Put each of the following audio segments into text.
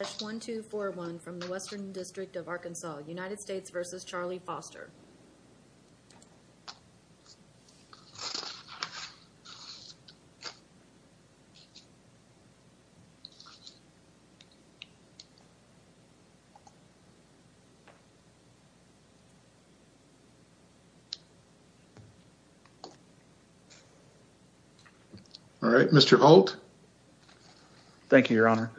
1241 from the Western District of Arkansas, United States v. Charlie Foster. Thank you, Your Honor.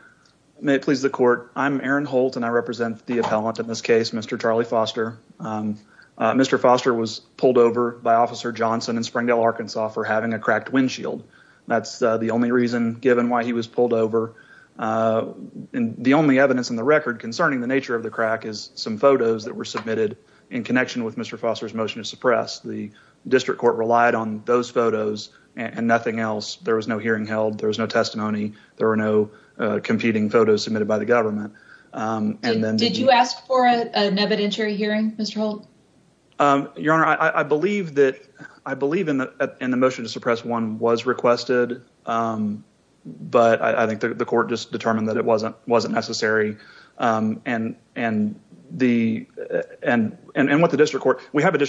May it please the court, I'm Aaron Holt and I represent the appellant in this case, Mr. Charlie Foster. Mr. Foster was pulled over by Officer Johnson in Springdale, Arkansas for having a cracked windshield. That's the only reason given why he was pulled over and the only evidence in the record concerning the nature of the crack is some photos that were submitted in connection with Mr. Foster's motion to suppress. The district court relied on those photos and nothing else. There was no hearing held, there was no testimony, there are no competing photos submitted by the government. Did you ask for an evidentiary hearing, Mr. Holt? Your Honor, I believe that I believe in the motion to suppress one was requested, but I think the court just determined that it wasn't wasn't necessary and what the district court, we have a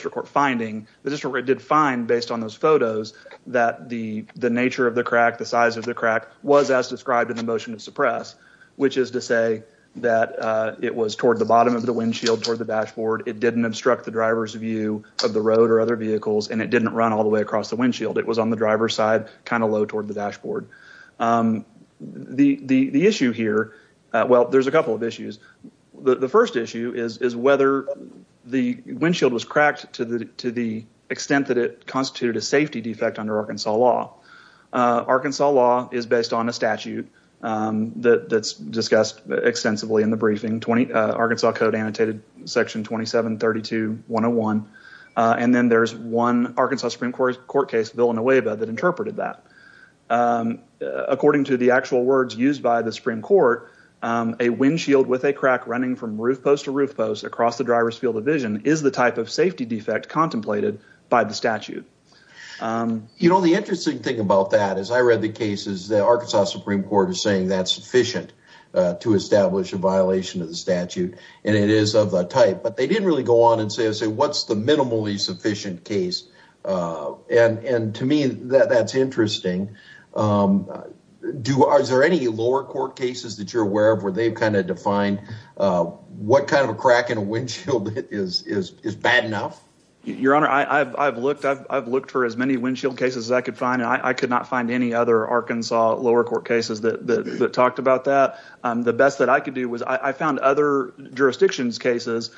photos that the the nature of the crack, the size of the crack was as described in the motion to suppress, which is to say that it was toward the bottom of the windshield, toward the dashboard, it didn't obstruct the driver's view of the road or other vehicles, and it didn't run all the way across the windshield. It was on the driver's side, kind of low toward the dashboard. The issue here, well there's a couple of issues. The first issue is whether the windshield was a safety defect under Arkansas law. Arkansas law is based on a statute that that's discussed extensively in the briefing. Arkansas code annotated section 2732 101, and then there's one Arkansas Supreme Court court case, Villanueva, that interpreted that. According to the actual words used by the Supreme Court, a windshield with a crack running from roof post to roof post across the driver's field of vision is the type of safety defect contemplated by the statute. You know, the interesting thing about that is I read the cases that Arkansas Supreme Court is saying that's sufficient to establish a violation of the statute, and it is of that type, but they didn't really go on and say, say what's the minimally sufficient case, and to me that's interesting. Is there any lower court cases that you're aware of where they've kind of defined what kind of a crack in a windshield is bad enough? Your Honor, I've looked for as many windshield cases as I could find, and I could not find any other Arkansas lower court cases that talked about that. The best that I could do was I found other jurisdictions cases.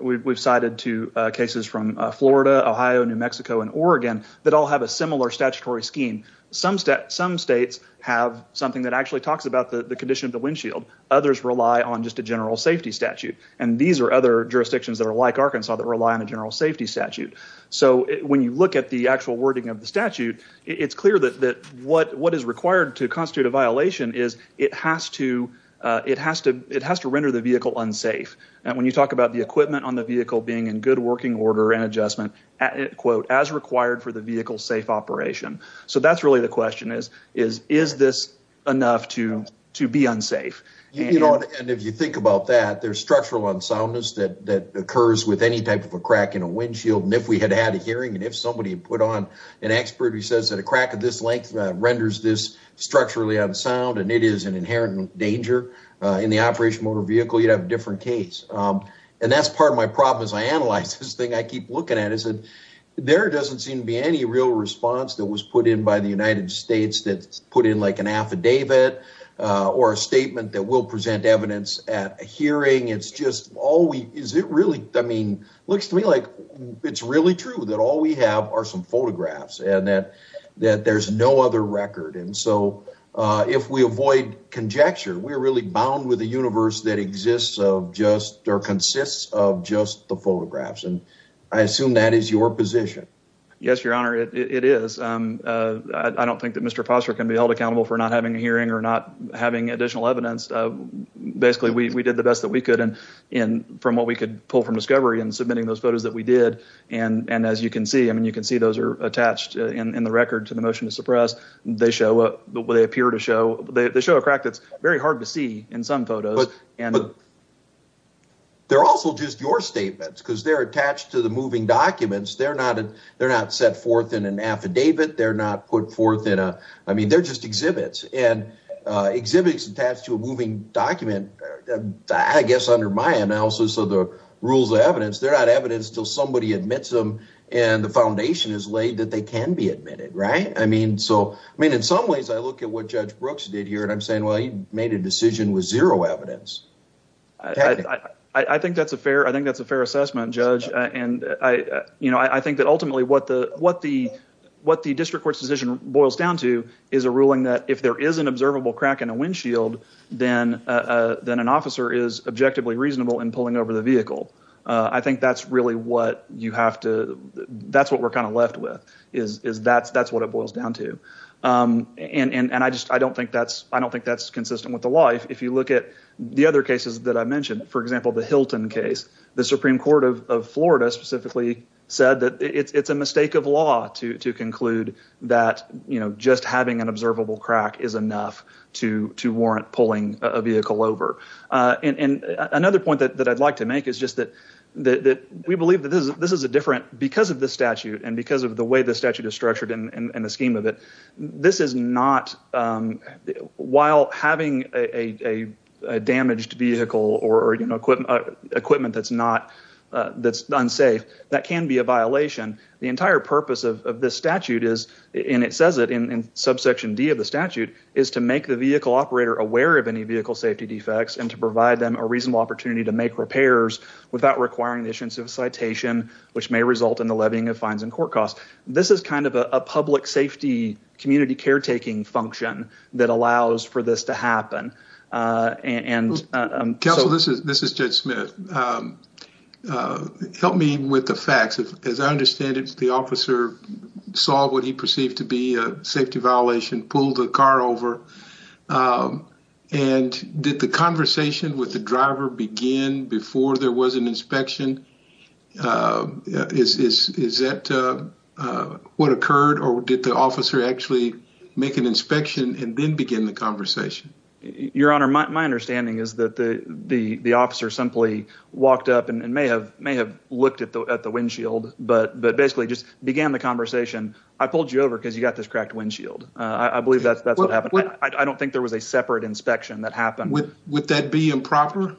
We've cited two cases from Florida, Ohio, New Mexico, and Oregon that all have a similar statutory scheme. Some states have something that actually talks about the condition of the windshield. Others rely on just a general safety statute, and these are other jurisdictions that are like Arkansas that rely on a general safety statute. So when you look at the actual wording of the statute, it's clear that what is required to constitute a violation is it has to render the vehicle unsafe, and when you talk about the equipment on the vehicle being in good working order and adjustment, as required for the vehicle safe operation. So that's really the question is, is this enough to to be unsafe? You know, and if you think about that, there's structural unsoundness that occurs with any type of a crack in a windshield, and if we had had a hearing, and if somebody put on an expert who says that a crack of this length renders this structurally unsound, and it is an inherent danger in the operation motor vehicle, you'd have a different case. And that's part of my problem as I analyze this thing. I keep looking at it. There doesn't seem to be any real response that was put in by the United States that put in like an affidavit or a statement that will make it look like a hearing. It's just all we, is it really, I mean, looks to me like it's really true that all we have are some photographs, and that there's no other record. And so if we avoid conjecture, we're really bound with a universe that exists of just, or consists of just the photographs, and I assume that is your position. Yes, your honor, it is. I don't think that Mr. Foster can be held accountable for not having a hearing or not having additional evidence. Basically, we did the best that we could, and from what we could pull from discovery in submitting those photos that we did, and as you can see, I mean, you can see those are attached in the record to the motion to suppress. They show, they appear to show, they show a crack that's very hard to see in some photos. But they're also just your statements, because they're attached to the moving documents. They're not set forth in an affidavit. They're not put forth in a, I mean, they're just exhibits, and exhibits attached to a moving document. I guess under my analysis of the rules of evidence, they're not evidence till somebody admits them, and the foundation is laid that they can be admitted, right? I mean, so, I mean, in some ways I look at what Judge Brooks did here, and I'm saying, well, he made a decision with zero evidence. I think that's a fair, I think that's a fair assessment, Judge, and I, you know, I think that ultimately what the, what the, what the district court's decision boils down to is a ruling that if there is an observable crack in a windshield, then, then an officer is objectively reasonable in pulling over the vehicle. I think that's really what you have to, that's what we're kind of left with, is, is that's, that's what it boils down to. And, and I just, I don't think that's, I don't think that's consistent with the law. If you look at the other cases that I mentioned, for example, the Hilton case, the Supreme Court of Florida specifically said that it's, it's a mistake of law to, to warrant pulling a vehicle over. And another point that I'd like to make is just that, that we believe that this is, this is a different, because of this statute and because of the way the statute is structured and the scheme of it, this is not, while having a damaged vehicle or, you know, equipment that's not, that's unsafe, that can be a violation. The entire purpose of this statute is, and it says it in subsection D of the statute, is to make the vehicle operator aware of any vehicle safety defects and to provide them a reasonable opportunity to make repairs without requiring the issuance of a citation, which may result in the levying of fines and court costs. This is kind of a public safety community caretaking function that allows for this to happen. And, um, Counsel, this is, this is Judge Smith. Help me with the facts. As I understand it, the officer saw what he perceived to be a safety violation, pulled the car over. Um, and did the conversation with the driver begin before there was an inspection? Uh, is, is, is that, uh, uh, what occurred or did the officer actually make an inspection and then begin the conversation? Your Honor, my understanding is that the, the, the officer simply walked up and may have, may have looked at the, at the windshield, but, but basically just began the conversation. I pulled you over because you got this cracked windshield. Uh, I believe that's, that's what happened. I don't think there was a separate inspection that happened. Would that be improper?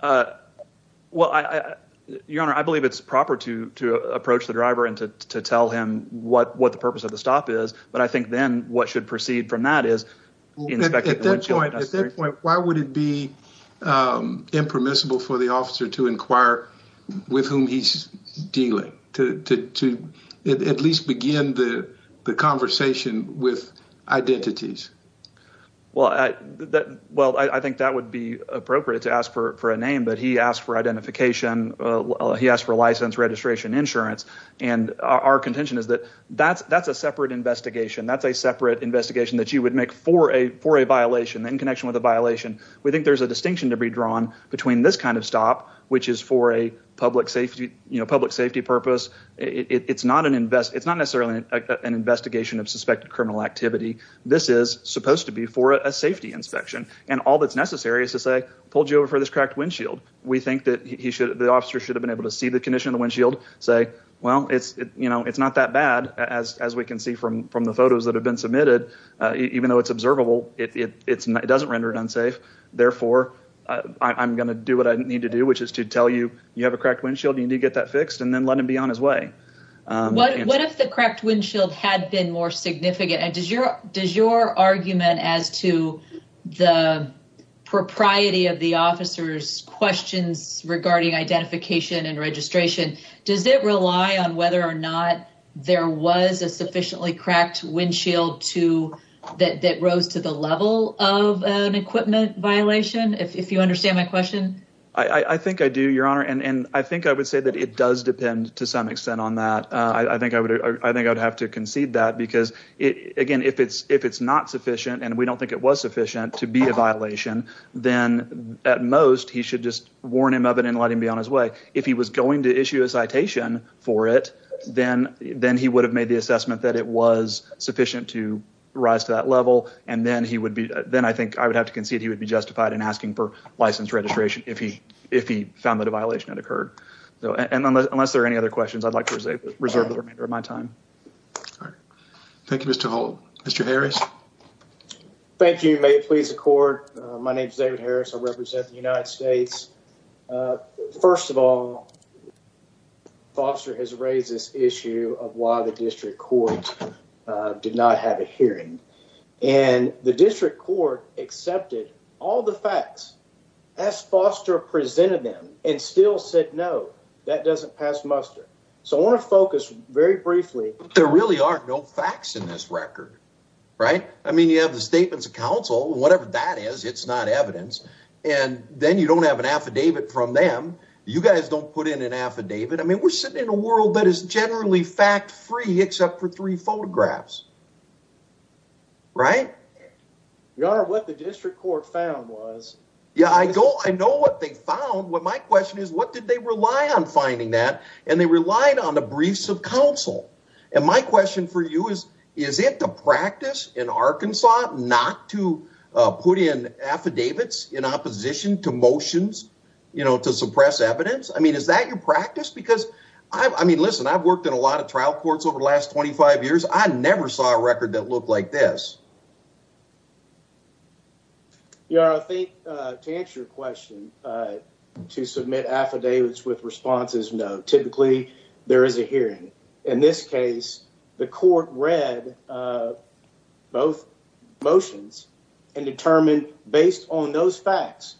Uh, well, I, Your Honor, I believe it's proper to, to approach the driver and to, to tell him what, what the purpose of the stop is. But I think then what should proceed from that is at that point, why would it be, um, impermissible for the with identities? Well, I, that, well, I think that would be appropriate to ask for, for a name, but he asked for identification. Uh, he asked for license, registration, insurance, and our contention is that that's, that's a separate investigation. That's a separate investigation that you would make for a, for a violation in connection with a violation. We think there's a distinction to be drawn between this kind of stop, which is for a public safety, you know, public safety purpose. It's not an invest. It's not necessarily an investigation of suspected criminal activity. This is supposed to be for a safety inspection. And all that's necessary is to say, pulled you over for this cracked windshield. We think that he should, the officer should have been able to see the condition of the windshield, say, well, it's, you know, it's not that bad as, as we can see from, from the photos that have been submitted. Uh, even though it's observable, it doesn't render it unsafe. Therefore, I'm going to do what I need to do, which is to tell you, you have a cracked windshield. You need to get that fixed and then let him be on his way. What if the cracked windshield had been more significant? And does your, does your argument as to the propriety of the officer's questions regarding identification and registration, does it rely on whether or not there was a sufficiently cracked windshield to that rose to the level of an equipment violation? If you understand my question, I think I do your honor. And I think I would say that it does depend to some extent on that. Uh, I think I would, I think I would have to concede that because it, again, if it's, if it's not sufficient and we don't think it was sufficient to be a violation, then at most he should just warn him of it and let him be on his way. If he was going to issue a citation for it, then, then he would have made the assessment that it was sufficient to rise to that level. And then he would be, then I think I would have to concede he would be justified in asking for license registration if he, if he found that a violation had occurred. So, and unless there are any other questions, I'd like to reserve the remainder of my time. Thank you, Mr. Hall. Mr. Harris. Thank you. May it please the court. My name is David Harris. I represent the United States. Uh, first of all, Foster has raised this issue of why the district court did not have a hearing and the district court accepted all the and still said, no, that doesn't pass muster. So I want to focus very briefly. There really are no facts in this record, right? I mean, you have the statements of council and whatever that is, it's not evidence. And then you don't have an affidavit from them. You guys don't put in an affidavit. I mean, we're sitting in a world that is generally fact free, except for three photographs, right? Your honor, what the district court found was, yeah, I go, I know what they found. What my question is, what did they rely on finding that? And they relied on the briefs of council. And my question for you is, is it the practice in Arkansas not to put in affidavits in opposition to motions, you know, to suppress evidence? I mean, is that your practice? Because I mean, listen, I've worked in a lot of trial courts over the last 25 years. I never saw a record that looked like this. Your honor, I think to answer your question, uh, to submit affidavits with responses, no, typically there is a hearing. In this case, the court read, uh, both motions and determined based on those facts,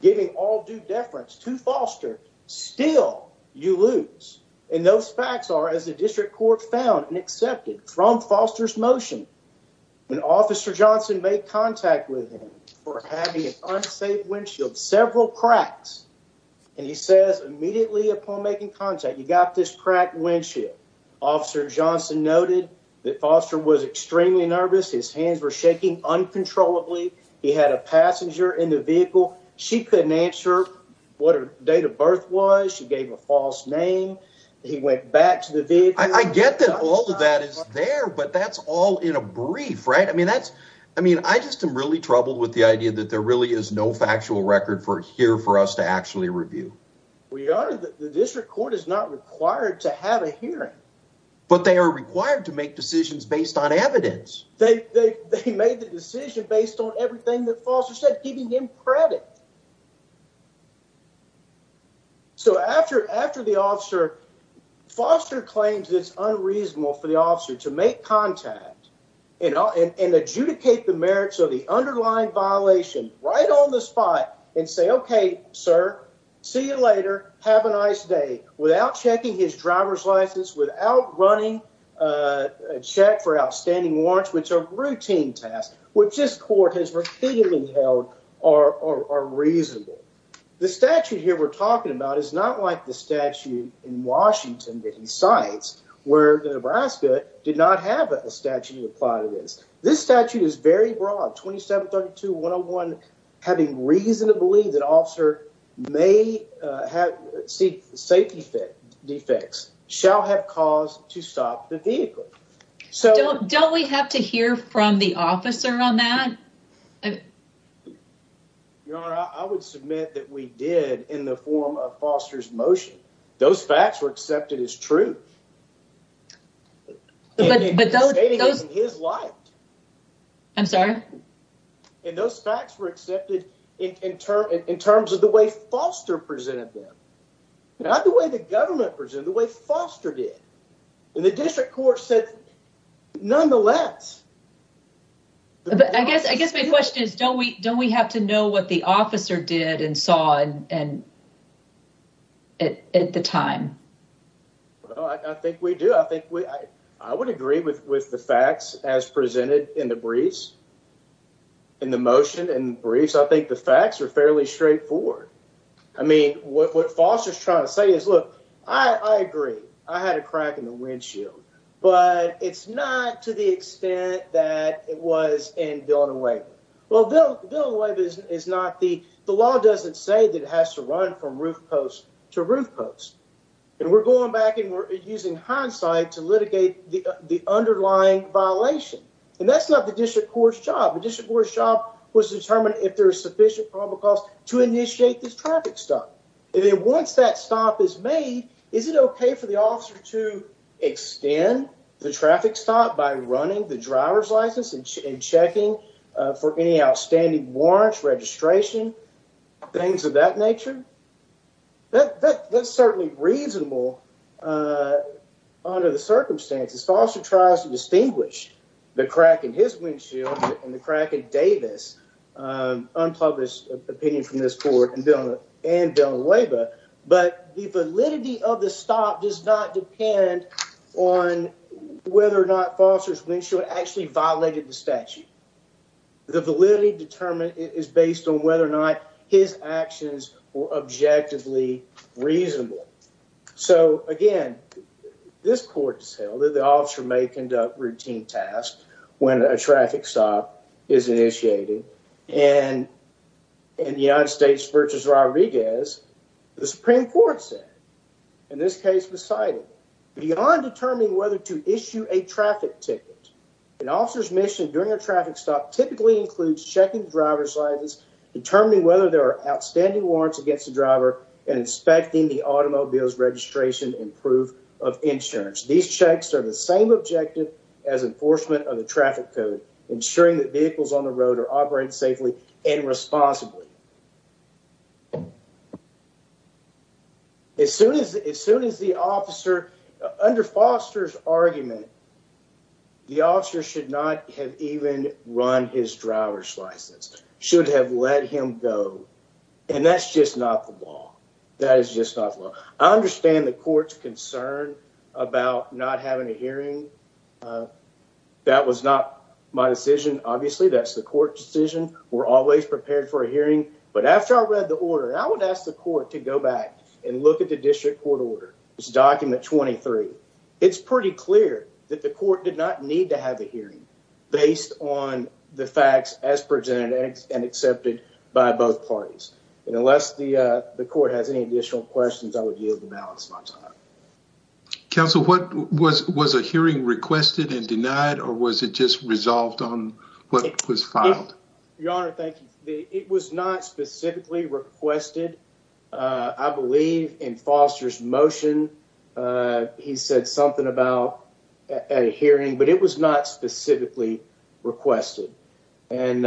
giving all due deference to foster. Still, you lose. And those facts are, as the district court found and accepted from Foster's motion when Officer Johnson made contact with him for having an unsafe windshield, several cracks. And he says immediately upon making contact, you got this crack windshield. Officer Johnson noted that Foster was extremely nervous. His hands were shaking uncontrollably. He had a passenger in the vehicle. She couldn't answer what her date of birth was. She is there, but that's all in a brief, right? I mean, that's I mean, I just am really troubled with the idea that there really is no factual record for here for us to actually review. We are. The district court is not required to have a hearing, but they are required to make decisions based on evidence. They made the decision based on everything that Foster said, giving him credit. So after after the officer Foster claims it's unreasonable for the officer to make contact and adjudicate the merits of the underlying violation right on the spot and say, Okay, sir, see you later. Have a nice day without checking his driver's license without running, uh, check for outstanding warrants, which are routine tasks, which this court has repeatedly held or or reasonable. The statute here we're talking about is not like the statute in Washington that he cites where the Nebraska did not have a statute of plot. It is. This statute is very broad. 27 32 101. Having reasonably that officer may have safety defects shall have caused to stop the vehicle. So don't we have to hear from the officer on that? Yeah, I would submit that we did in the form of Foster's motion. Those facts were accepted as truth. But those his life, I'm sorry. And those facts were accepted in turn in terms of the way Foster presented them. Not the way the government present the way Foster did in the district court said. Nonetheless, but I guess I guess my question is, don't we? Don't we have to know what the officer did and saw and at the time? I think we do. I think I would agree with with the facts as presented in the briefs in the motion and briefs. I think the facts were fairly straightforward. I mean, what Foster's trying to say is, Look, I agree. I had a crack in the that it was in building away. Well, they'll do away. This is not the law. Doesn't say that has to run from roof post to roof post. And we're going back and we're using hindsight to litigate the underlying violation. And that's not the district court's job. The district court shop was determined if there's sufficient public calls to initiate this traffic stop. And then once that stop is made, is it okay for the officer to extend the traffic stop by running the driver's license and checking for any outstanding warrants, registration, things of that nature? That that's certainly reasonable. Uh, under the circumstances, Foster tries to distinguish the crack in his windshield and the crack of Davis. Um, unpublished opinion from this court and and don't labor. But the validity of Foster's windshield actually violated the statute. The validity determined is based on whether or not his actions or objectively reasonable. So again, this court is held that the officer may conduct routine tasks when a traffic stop is initiated. And in the United States versus Rodriguez, the Supreme Court said in this case was cited beyond determining whether to issue a ticket. An officer's mission during a traffic stop typically includes checking driver's license, determining whether there are outstanding warrants against the driver and inspecting the automobile's registration and proof of insurance. These checks are the same objective as enforcement of the traffic code, ensuring that vehicles on the road are operating safely and responsibly. As soon as as soon as the officer under Foster's argument, the officer should not have even run his driver's license, should have let him go. And that's just not the law. That is just not law. I understand the court's concern about not having a hearing. Uh, that was not my decision. Obviously, that's the court decision. We're always prepared for a hearing. We're always But after I read the order, I would ask the court to go back and look at the district court order. It's document 23. It's pretty clear that the court did not need to have a hearing based on the facts as presented and accepted by both parties. And unless the court has any additional questions, I would yield the balance. Counsel, what was was a hearing requested and denied? Or was it just specifically requested? I believe in Foster's motion, uh, he said something about a hearing, but it was not specifically requested. And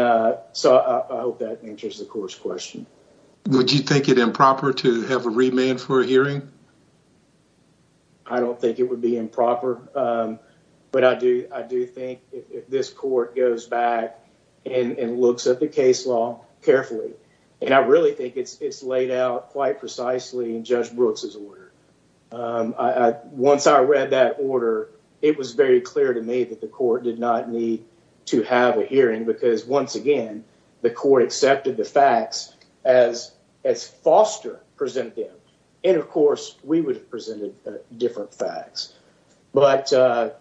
so I hope that answers the court's question. Would you think it improper to have a remand for a hearing? I don't think it would be improper. Um, but I do. I do think if this court goes back and looks at the case law carefully, and I really think it's laid out quite precisely in Judge Brooks's order. Um, once I read that order, it was very clear to me that the court did not need to have a hearing because once again, the court accepted the facts as as foster presented. And, of course, we would have presented different facts. But, uh,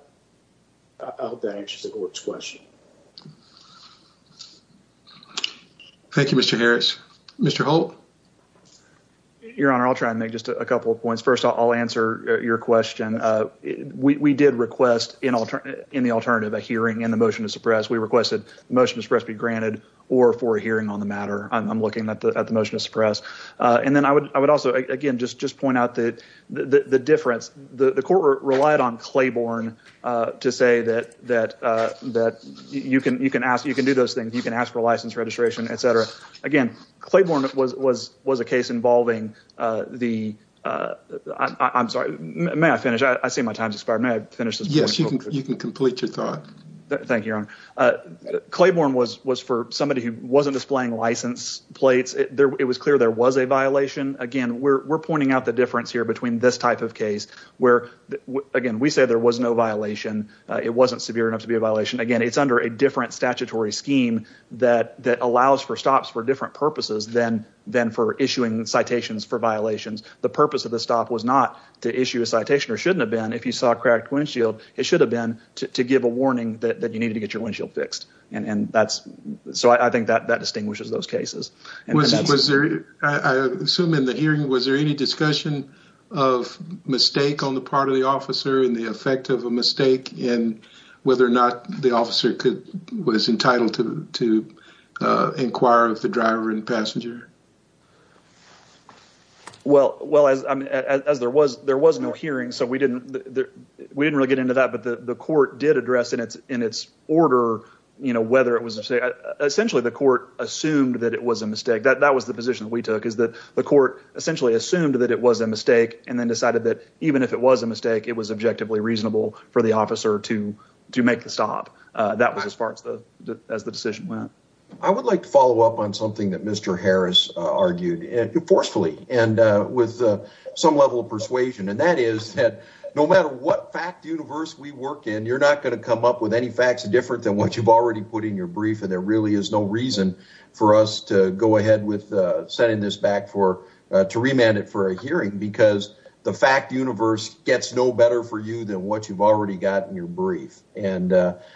I hope that answers the court's question. Thank you, Mr. Harris. Mr. Holt. Your Honor, I'll try and make just a couple of points. First, I'll answer your question. Uh, we did request in the alternative a hearing in the motion to suppress. We requested the motion to suppress be granted or for a hearing on the matter. I'm looking at the motion to suppress. And then I would also, again, just point out that the difference, the court relied on that. You can you can ask. You can do those things. You can ask for license registration, etcetera. Again, Claiborne was was was a case involving the I'm sorry. May I finish? I see my time's expired. May I finish this? Yes, you can. Complete your thought. Thank you, Your Honor. Uh, Claiborne was was for somebody who wasn't displaying license plates. It was clear there was a violation again. We're pointing out the difference here between this type of case where again we say there was no violation. It wasn't severe enough to be a violation. Again, it's under a different statutory scheme that that allows for stops for different purposes than than for issuing citations for violations. The purpose of the stop was not to issue a citation or shouldn't have been. If you saw a cracked windshield, it should have been to give a warning that you needed to get your windshield fixed. And that's so I think that that distinguishes those cases. And that was there. I assume in the hearing, was there any discussion of mistake on the part of the officer and the effect of a mistake and whether or not the officer could was entitled to to inquire of the driver and passenger. Well, well, as as there was, there was no hearing, so we didn't. We didn't really get into that. But the court did address in its in its order, you know, whether it was essentially the court assumed that it was a mistake. That was the position we took is that the court essentially assumed that it was a mistake and then decided that even if it was a mistake, it was objectively reasonable for the officer to to make the stop. That was as far as the as the decision went. I would like to follow up on something that Mr. Harris argued forcefully and with some level of persuasion. And that is that no matter what fact universe we work in, you're not going to come up with any facts different than what you've already put in your brief. And there really is no reason for us to go ahead with sending this back for to remand it for a hearing because the fact universe gets no better for you than what you've already got in your brief. And that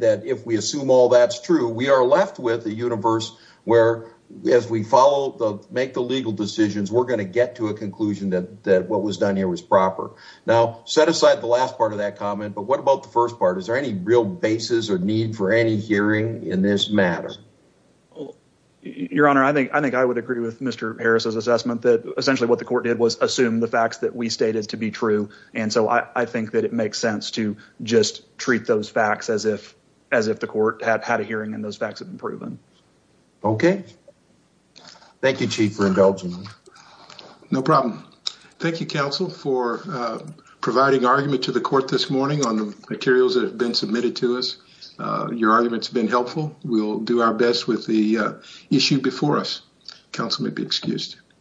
that if we assume all that's true, we are left with the universe where, as we follow the make the legal decisions, we're going to get to a conclusion that that what was done here was proper. Now, set aside the last part of that comment. But what about the first part? Is there any real basis or need for any hearing in this matter? Your Honor, I think I think I would agree with Mr. Harris's assessment that essentially what the court did was assume the facts that we stated to be true. And so I I think that it makes sense to just treat those facts as if as if the court had had a hearing in those facts have been proven. Okay. Thank you, Chief for indulging. No problem. Thank you, Counsel for providing argument to the court this morning on the materials that have been submitted to us. Your arguments been helpful. We'll do our best with the issue before us. Counsel may be excused.